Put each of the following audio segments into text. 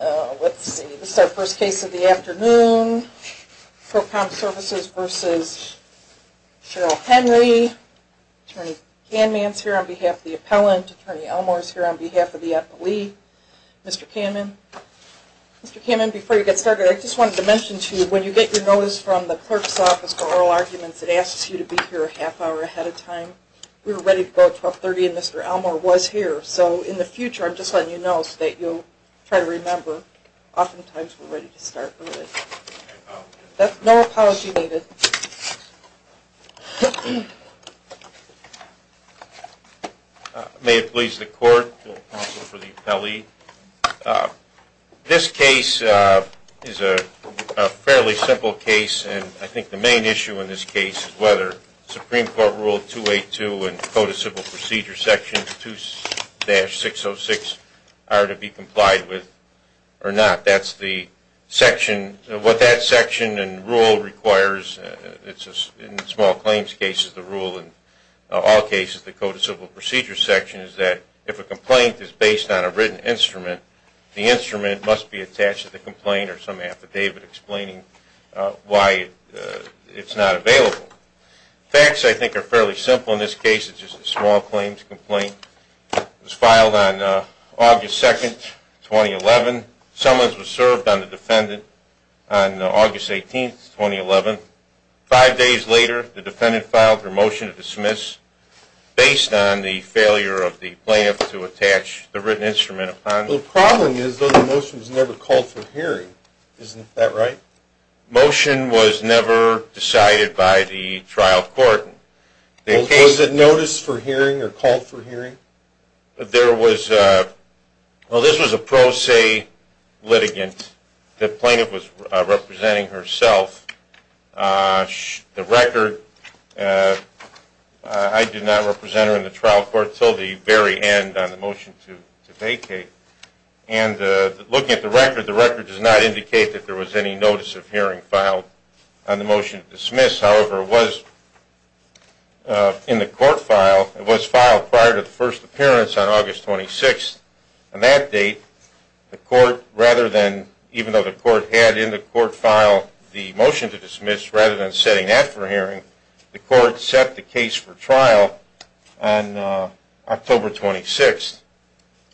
Attorney Canman is here on behalf of the appellant. Attorney Elmore is here on behalf of the appellee. Mr. Canman before you get started I just wanted to mention to you when you get your notice from the clerk's office for oral arguments it asks you to be here a half hour ahead of time. We were ready to go at 1230 and Mr. Elmore was here so in the future I'm just going to try to remember. Oftentimes we're ready to start early. No apologies needed. May it please the court, counsel for the appellee. This case is a fairly simple case and I think the main issue in this case is whether Supreme Court Rule 282 and Code of Civil Procedure Section 2-606 are to be complied with or not. What that section and rule requires in small claims cases the rule in all cases the Code of Civil Procedure section is that if a complaint is based on a written instrument the instrument must be attached to the complaint or some affidavit explaining why it's not available. Facts I think are fairly simple in this case it's just a small claims complaint. It was filed on August 2nd, 2011. Summons was served on the defendant on August 18th, 2011. Five days later the defendant filed her motion to dismiss based on the failure of the plaintiff to attach the written instrument upon her. The problem is though the motion was never called for hearing. Isn't that right? Motion was never decided by the trial court. Was it noticed for hearing or called for hearing? There was, well this was a pro se litigant. The plaintiff was representing herself. The record, I did not represent her in the trial court until the very end on the motion to dismiss. However, it was in the court file, it was filed prior to the first appearance on August 26th. On that date the court rather than, even though the court had in the court file the motion to dismiss rather than setting that for hearing, the court set the case for trial on October 26th.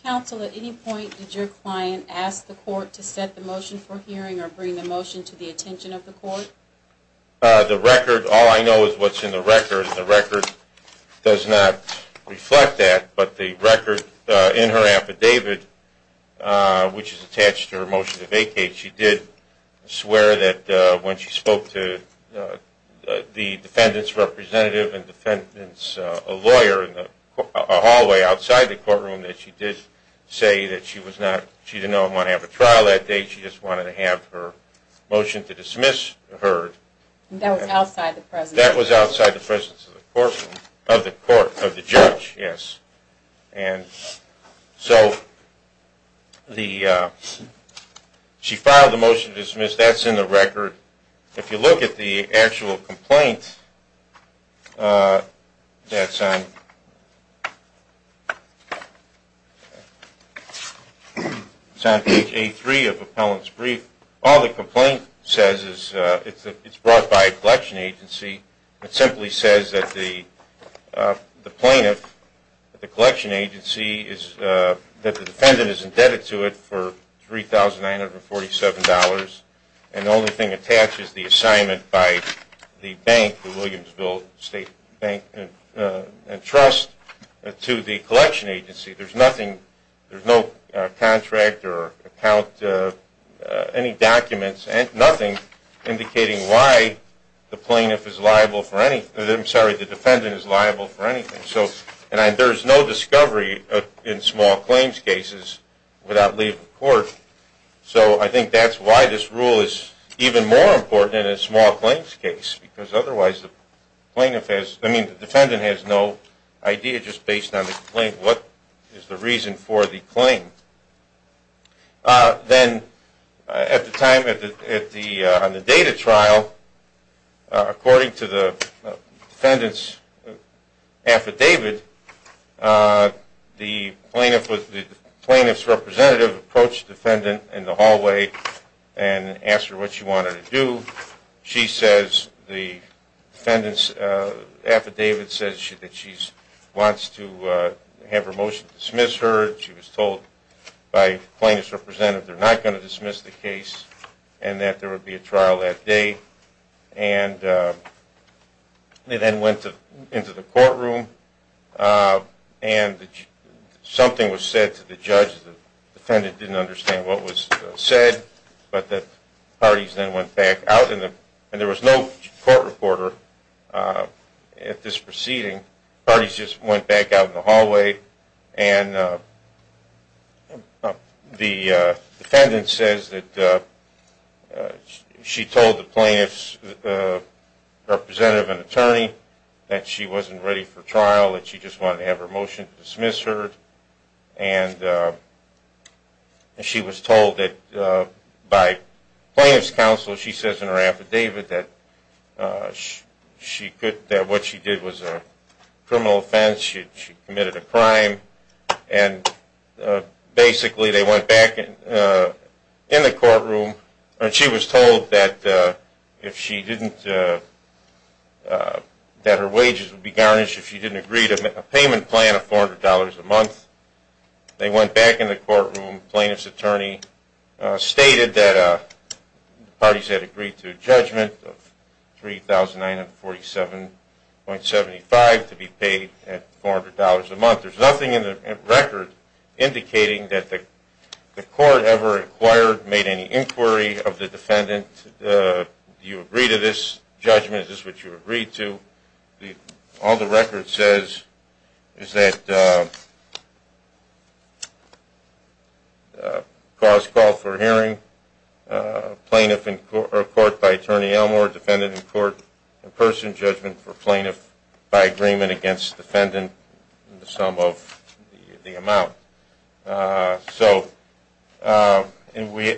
Counsel, at any point did your client ask the court to set the motion for hearing or bring the motion to the attention of the court? The record, all I know is what's in the record. The record does not reflect that, but the record in her affidavit, which is attached to her motion to vacate, she did swear that when she spoke to the defendant's representative and defendant's lawyer in a hallway outside the courtroom that she did say that she was not, she did not want to have a trial that day, she just wanted to have her motion to dismiss heard. That was outside the presence? That was outside the presence of the courtroom, of the court, of the judge, yes. And so she filed the motion to dismiss, that's in the record. If you look at the actual complaint that's on page A3 of Appellant's brief, all the complaint says is it's brought by a collection agency, it simply says that the plaintiff, the collection agency, that the defendant is indebted to it for $3,947 and the only thing attached is the assignment by the bank, the Williamsville State Bank and Trust, to the collection agency. There's nothing, there's no contract or account, any documents, nothing indicating why the plaintiff is liable for anything. And there's no discovery in small claims cases without leaving the court. So I think that's why this rule is even more important in a small claims case because otherwise the defendant has no idea just based on the claim, what is the reason for the claim. Then at the time on the data trial, according to the defendant's affidavit, the plaintiff's representative approached the defendant in the hallway and asked her what she wanted to do. She says, the defendant's affidavit says that she wants to have her motion dismissed heard, she was told by the plaintiff's representative they're not going to dismiss the case and that there would be a trial that day. And they then went into the courtroom and something was said to the judge, the defendant didn't understand what was said, but the parties then went back out and there was no court reporter at this proceeding, the parties just went back out in the hallway and the defendant says that she told the plaintiff's representative and attorney that she wasn't ready for trial, that she just wanted to have her motion dismissed heard and she was told that by plaintiff's counsel, she says in her affidavit that what she did was a criminal offense, she committed a crime and basically they went back in the courtroom and she was told that her wages would be garnished if she didn't agree to a payment plan of $400 a month. They went back in the courtroom, plaintiff's attorney stated that the parties had agreed to a judgment of $3,947.75 to be paid at $400 a month. There's nothing in the record indicating that the court ever inquired, made any inquiry of the defendant, do you agree to this judgment, is this what you agreed to, all the record says is that cause called for hearing, plaintiff in court by attorney Elmore, defendant in court in person, judgment for plaintiff by agreement against defendant, the sum of the amount.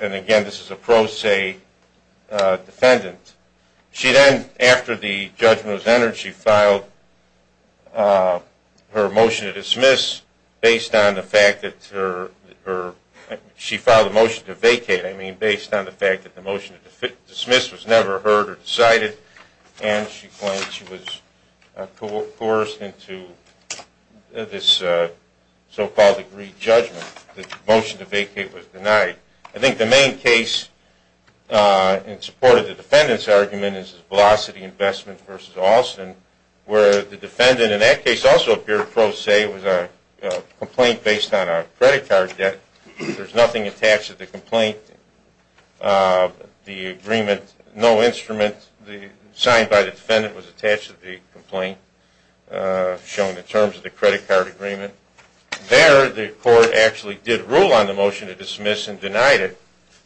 And again, this is a pro se defendant. She then, after the judgment was entered, she filed her motion to vacate based on the fact that the motion to dismiss was never heard or decided and she claimed she was coerced into this so-called agreed judgment, the motion to vacate was denied. I think the main case in support of the defendant's argument is Velocity Investments v. Alston, where the defendant in that case also appeared pro se, it was a complaint based on a credit card debt, there's nothing attached to the complaint, the agreement, no instrument signed by the defendant was attached to the complaint, shown in terms of the credit card agreement. There, the court actually did rule on the motion to dismiss and denied it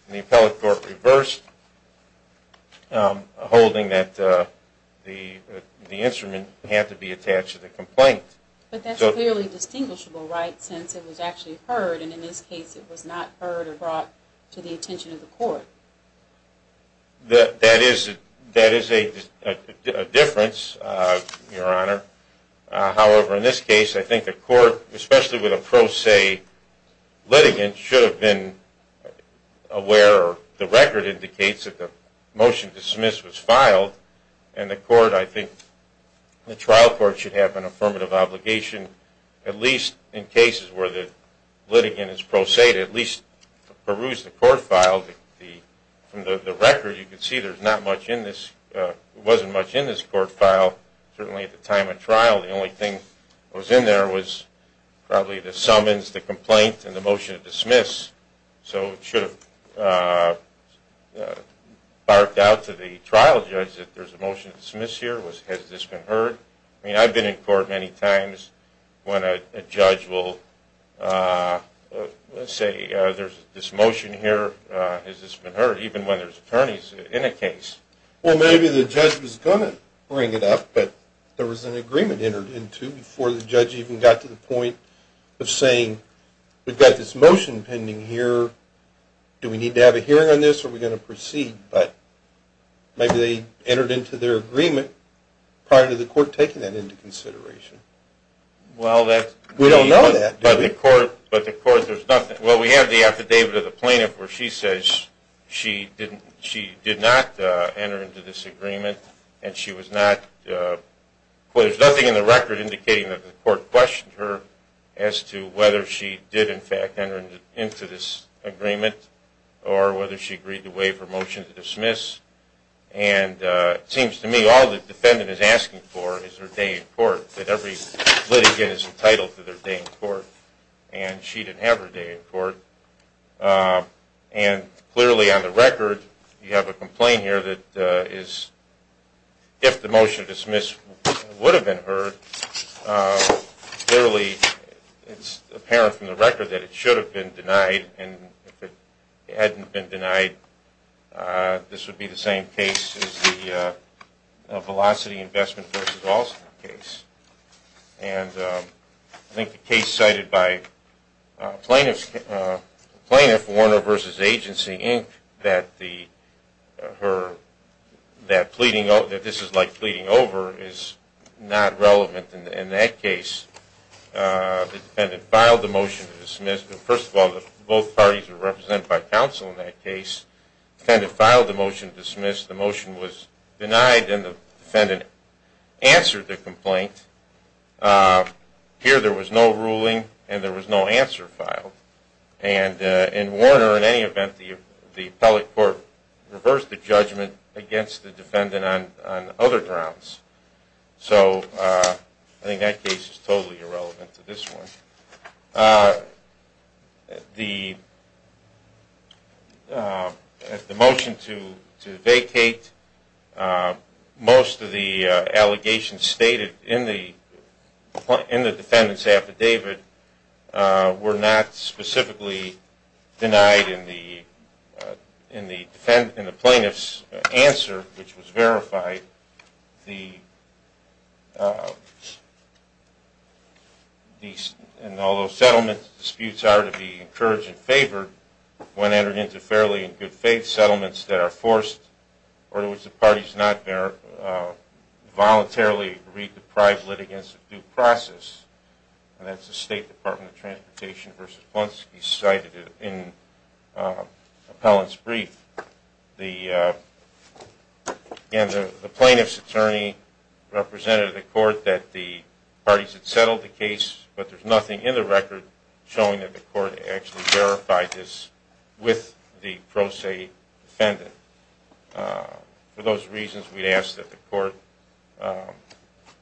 and the appellate court reversed, holding that the instrument had to be attached to the complaint. But that's clearly distinguishable, right, since it was actually heard and in this case it was not heard or brought to the attention of the court. That is a difference, Your Honor. However, in this case, I think the court, especially with a pro se litigant, should have been aware or the record indicates that the motion to dismiss was filed and the court, I think, the trial court should have an affirmative obligation, at least in cases where the litigant is pro se to at least peruse the court file, from the record you can see there's not much in this, wasn't much in this court file, certainly at the time of trial the only thing that was in there was probably the summons, the complaint and the motion to dismiss. So it should have barked out to the trial judge that there's a motion to dismiss here, has this been heard? I mean, I've been in court many times when a judge will say there's this motion here, has this been heard, even when there's attorneys in a case. Well, maybe the judge was going to bring it up but there was an agreement entered into before the judge even got to the point of saying we've got this motion pending here, do we need to have a hearing on this or are we going to proceed? But maybe they entered into their agreement prior to the court taking that into consideration. Well, that's... We don't know that. But the court, but the court, there's nothing, well we have the affidavit of the plaintiff where she says she didn't, she did not enter into this agreement and she was not, well there's nothing in the record indicating that the court questioned her as to whether she did in fact enter into this agreement or whether she agreed to waive her motion to dismiss and it seems to me all the defendant is asking for is her day in court, that every litigant is entitled to their day in court and she didn't have her day in court. And clearly on the record, you have a complaint here that is, if the motion to dismiss would have been heard, clearly it's apparent from the record that it should have been denied and if it hadn't been denied, this would be the same case as the Velocity Investment vs. Alston case. And I think the case cited by Plaintiff, Plaintiff Warner vs. Agency, Inc., that the, her, that pleading, that this is like pleading over is not relevant in that case. The defendant filed the motion to dismiss. First of all, both parties are represented by counsel in that case. The defendant filed the motion to dismiss. The motion was denied and the defendant answered the complaint. Here there was no ruling and there was no answer filed. And in Warner, in any event, the appellate court reversed the judgment against the defendant on other grounds. So I think that case is totally irrelevant to this one. The motion to vacate, most of the allegations stated in the defendant's affidavit were not are to be encouraged and favored when entered into fairly and good faith settlements that are forced or to which the parties not voluntarily re-deprive litigants of due process. And that's the State Department of Transportation vs. Polonsky cited in Appellant's brief. The plaintiff's attorney represented the court that the parties had settled the case, but there's nothing in the record showing that the court actually verified this with the pro se defendant. For those reasons, we'd ask that the court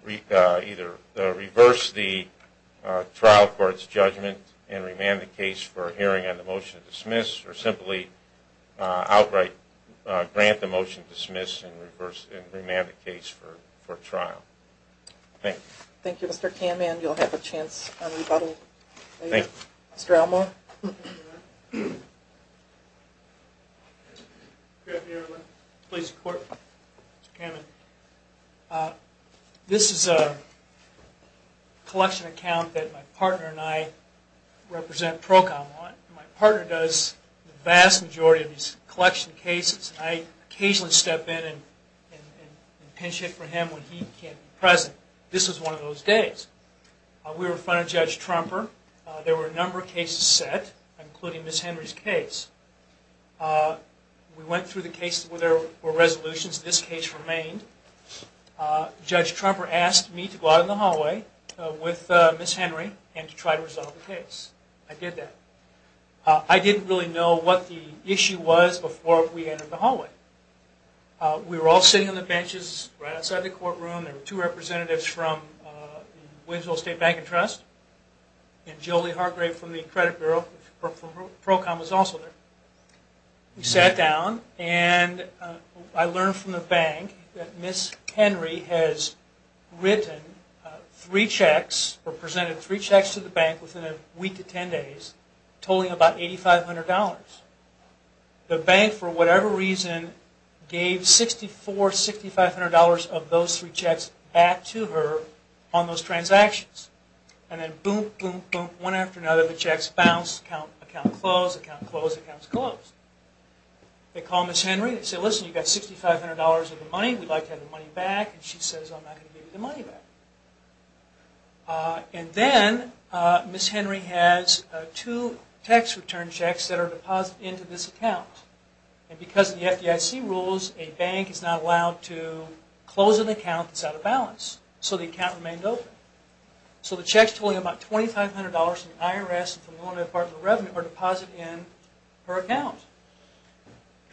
either reverse the trial court's judgment and remand the case for a hearing on the motion to dismiss or simply outright grant the motion to dismiss and remand the case for trial. Thank you. Thank you, Mr. Kamen. You'll have a chance on rebuttal later. Thank you. Mr. Elmore. Good afternoon, everyone. Pleased to report. Mr. Kamen. This is a collection account that my partner and I represent ProCom on. My partner does the vast majority of these collection cases. I occasionally step in and pinch hit for him when he can't be present. This was one of those days. We were in front of Judge Trumper. There were a number of cases set, including Ms. Henry's case. We went through the cases where there were resolutions. This case remained. Judge Trumper asked me to go out in the hallway with Ms. Henry and to try to resolve the case. I did that. I didn't really know what the issue was before we entered the hallway. We were all sitting on the benches right outside the courtroom. There were two representatives from the Williamsville State Bank and Trust and Jolie Hargrave from the Credit Bureau. ProCom was also there. We sat down, and I learned from the bank that Ms. Henry has written three checks or presented three checks to the bank within a week to ten days, totaling about $8,500. The bank, for whatever reason, gave $6,400 or $6,500 of those three checks back to her on those transactions. Then, boom, boom, boom. One after another, the checks bounced, account closed, account closed, accounts closed. They called Ms. Henry and said, Listen, you've got $6,500 of the money. We'd like to have the money back. She said, I'm not going to give you the money back. Then, Ms. Henry has two tax return checks that are deposited into this account. Because of the FDIC rules, a bank is not allowed to close an account that's out of balance, so the account remained open. The checks totaling about $2,500 from the IRS and from the Department of Revenue are deposited in her account.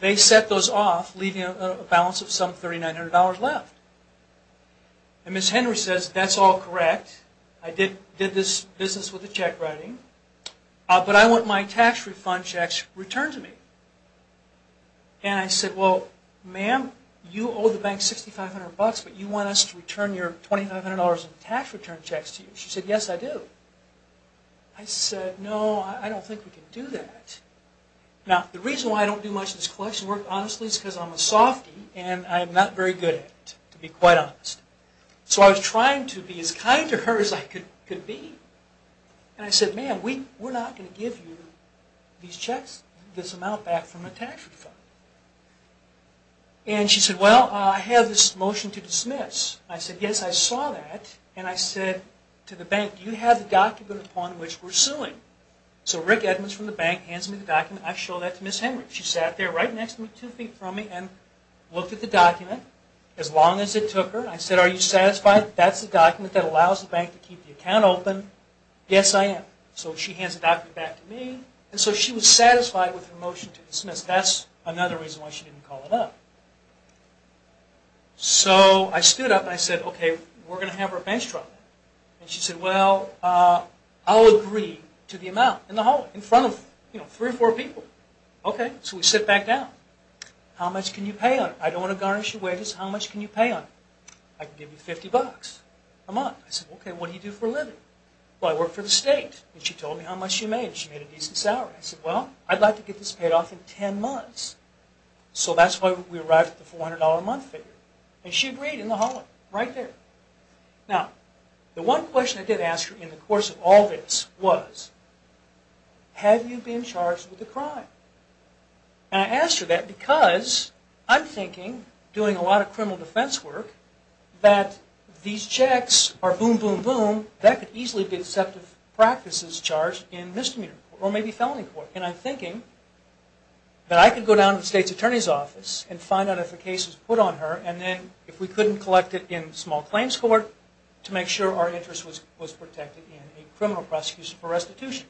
They set those off, leaving a balance of some $3,900 left. Ms. Henry says, That's all correct. I did this business with the check writing, but I want my tax refund checks returned to me. I said, Well, ma'am, you owe the bank $6,500, but you want us to return your $2,500 in tax return checks to you. She said, Yes, I do. I said, No, I don't think we can do that. Now, the reason why I don't do much of this collection work, honestly, is because I'm a softie and I'm not very good at it, to be quite honest. So I was trying to be as kind to her as I could be. I said, Ma'am, we're not going to give you these checks, this amount, back from a tax refund. She said, Well, I have this motion to dismiss. I said, Yes, I saw that. I said to the bank, Do you have the document upon which we're suing? So Rick Edmonds from the bank hands me the document. I show that to Ms. Henry. She sat there right next to me, two feet from me, and looked at the document. As long as it took her. I said, Are you satisfied that that's the document that allows the bank to keep the account open? Yes, I am. So she hands the document back to me. And so she was satisfied with her motion to dismiss. That's another reason why she didn't call it up. So I stood up and I said, Okay, we're going to have her bench trial. And she said, Well, I'll agree to the amount in the hallway, in front of three or four people. Okay, so we sit back down. How much can you pay on it? I don't want to garnish your wages. How much can you pay on it? I can give you $50 a month. I said, Okay, what do you do for a living? Well, I work for the state. And she told me how much she made. She made a decent salary. I said, Well, I'd like to get this paid off in ten months. So that's why we arrived at the $400 a month figure. And she agreed in the hallway, right there. Now, the one question I did ask her in the course of all this was, Have you been charged with a crime? And I asked her that because I'm thinking, doing a lot of criminal defense work, that these checks are boom, boom, boom. That could easily be deceptive practices charged in misdemeanor court or maybe felony court. And I'm thinking that I could go down to the state's attorney's office and find out if a case was put on her. And then if we couldn't collect it in small claims court to make sure our interest was protected in a criminal prosecution for restitution.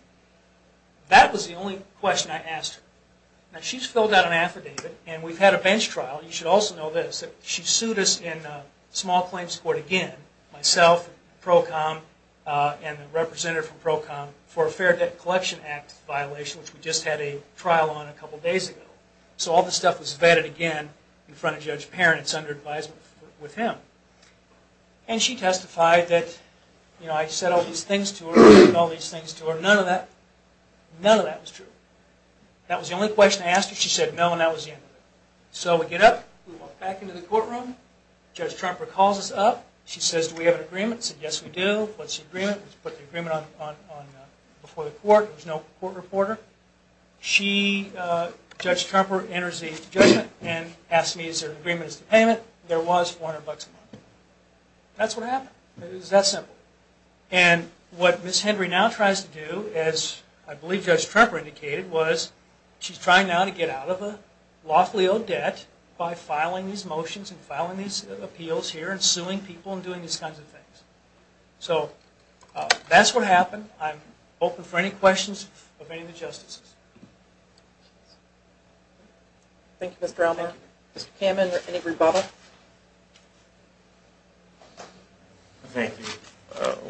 That was the only question I asked her. Now, she's filled out an affidavit. And we've had a bench trial. You should also know this. She sued us in small claims court again, myself, PROCOM, and the representative from PROCOM for a Fair Debt Collection Act violation, which we just had a trial on a couple days ago. So all this stuff was vetted again in front of Judge Parent. It's under advisement with him. And she testified that, you know, I said all these things to her. I did all these things to her. None of that was true. That was the only question I asked her. She said no, and that was the end of it. So we get up. We walk back into the courtroom. Judge Trumper calls us up. She says, do we have an agreement? We said, yes, we do. What's the agreement? We put the agreement before the court. There was no court reporter. Judge Trumper enters the judgment and asks me, is there an agreement as to payment? There was $400 a month. That's what happened. It was that simple. And what Ms. Henry now tries to do, as I believe Judge Trumper indicated, was she's trying now to get out of a lawfully owed debt by filing these motions and filing these appeals here and suing people and doing these kinds of things. So that's what happened. I'm open for any questions of any of the justices. Thank you, Mr. Elmore. Mr. Kamen, any rebuttal? Thank you.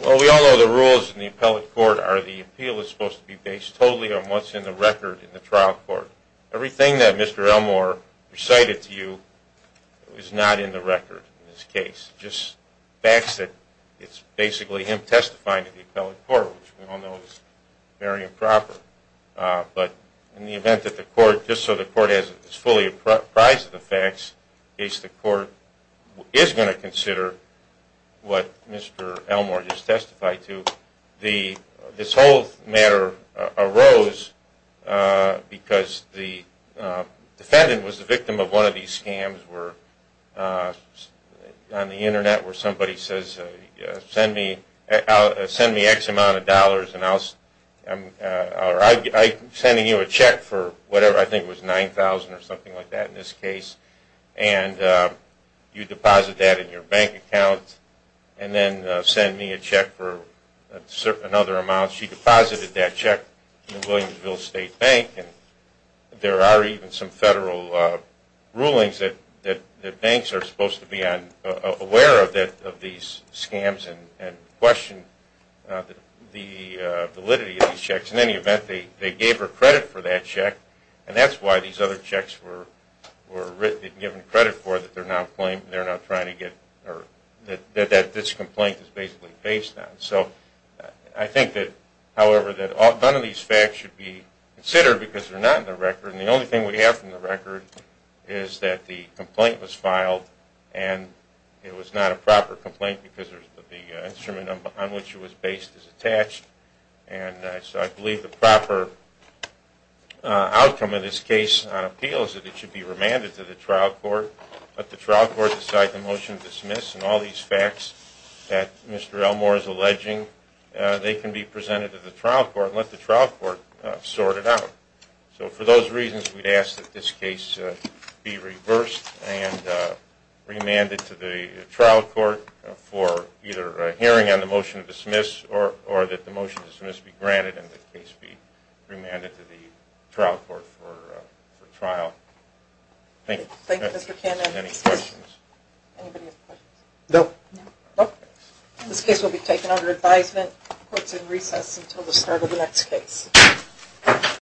Well, we all know the rules in the appellate court are the appeal is supposed to be based totally on what's in the record in the trial court. Everything that Mr. Elmore recited to you is not in the record in this case, just facts that it's basically him testifying to the appellate court, which we all know is very improper. But in the event that the court, just so the court is fully apprised of the facts, the court is going to consider what Mr. Elmore just testified to. This whole matter arose because the defendant was the victim of one of these scams where on the Internet where somebody says, send me X amount of dollars and I'll send you a check for whatever, I think it was $9,000 or something like that in this case, and you deposit that in your bank account and then send me a check for another amount. She deposited that check in the Williamsville State Bank, and there are even some federal rulings that banks are supposed to be aware of these scams and question the validity of these checks. In any event, they gave her credit for that check, and that's why these other checks were given credit for that they're now trying to get, or that this complaint is basically based on. I think, however, that none of these facts should be considered because they're not in the record, and the only thing we have from the record is that the complaint was filed and it was not a proper complaint because the instrument on which it was based is attached. I believe the proper outcome of this case on appeal is that it should be remanded to the trial court, and all these facts that Mr. Elmore is alleging, they can be presented to the trial court and let the trial court sort it out. So for those reasons, we'd ask that this case be reversed and remanded to the trial court for either a hearing on the motion to dismiss or that the motion to dismiss be granted and the case be remanded to the trial court for trial. Thank you. Any questions? No. This case will be taken under advisement. Court is in recess until the start of the next case.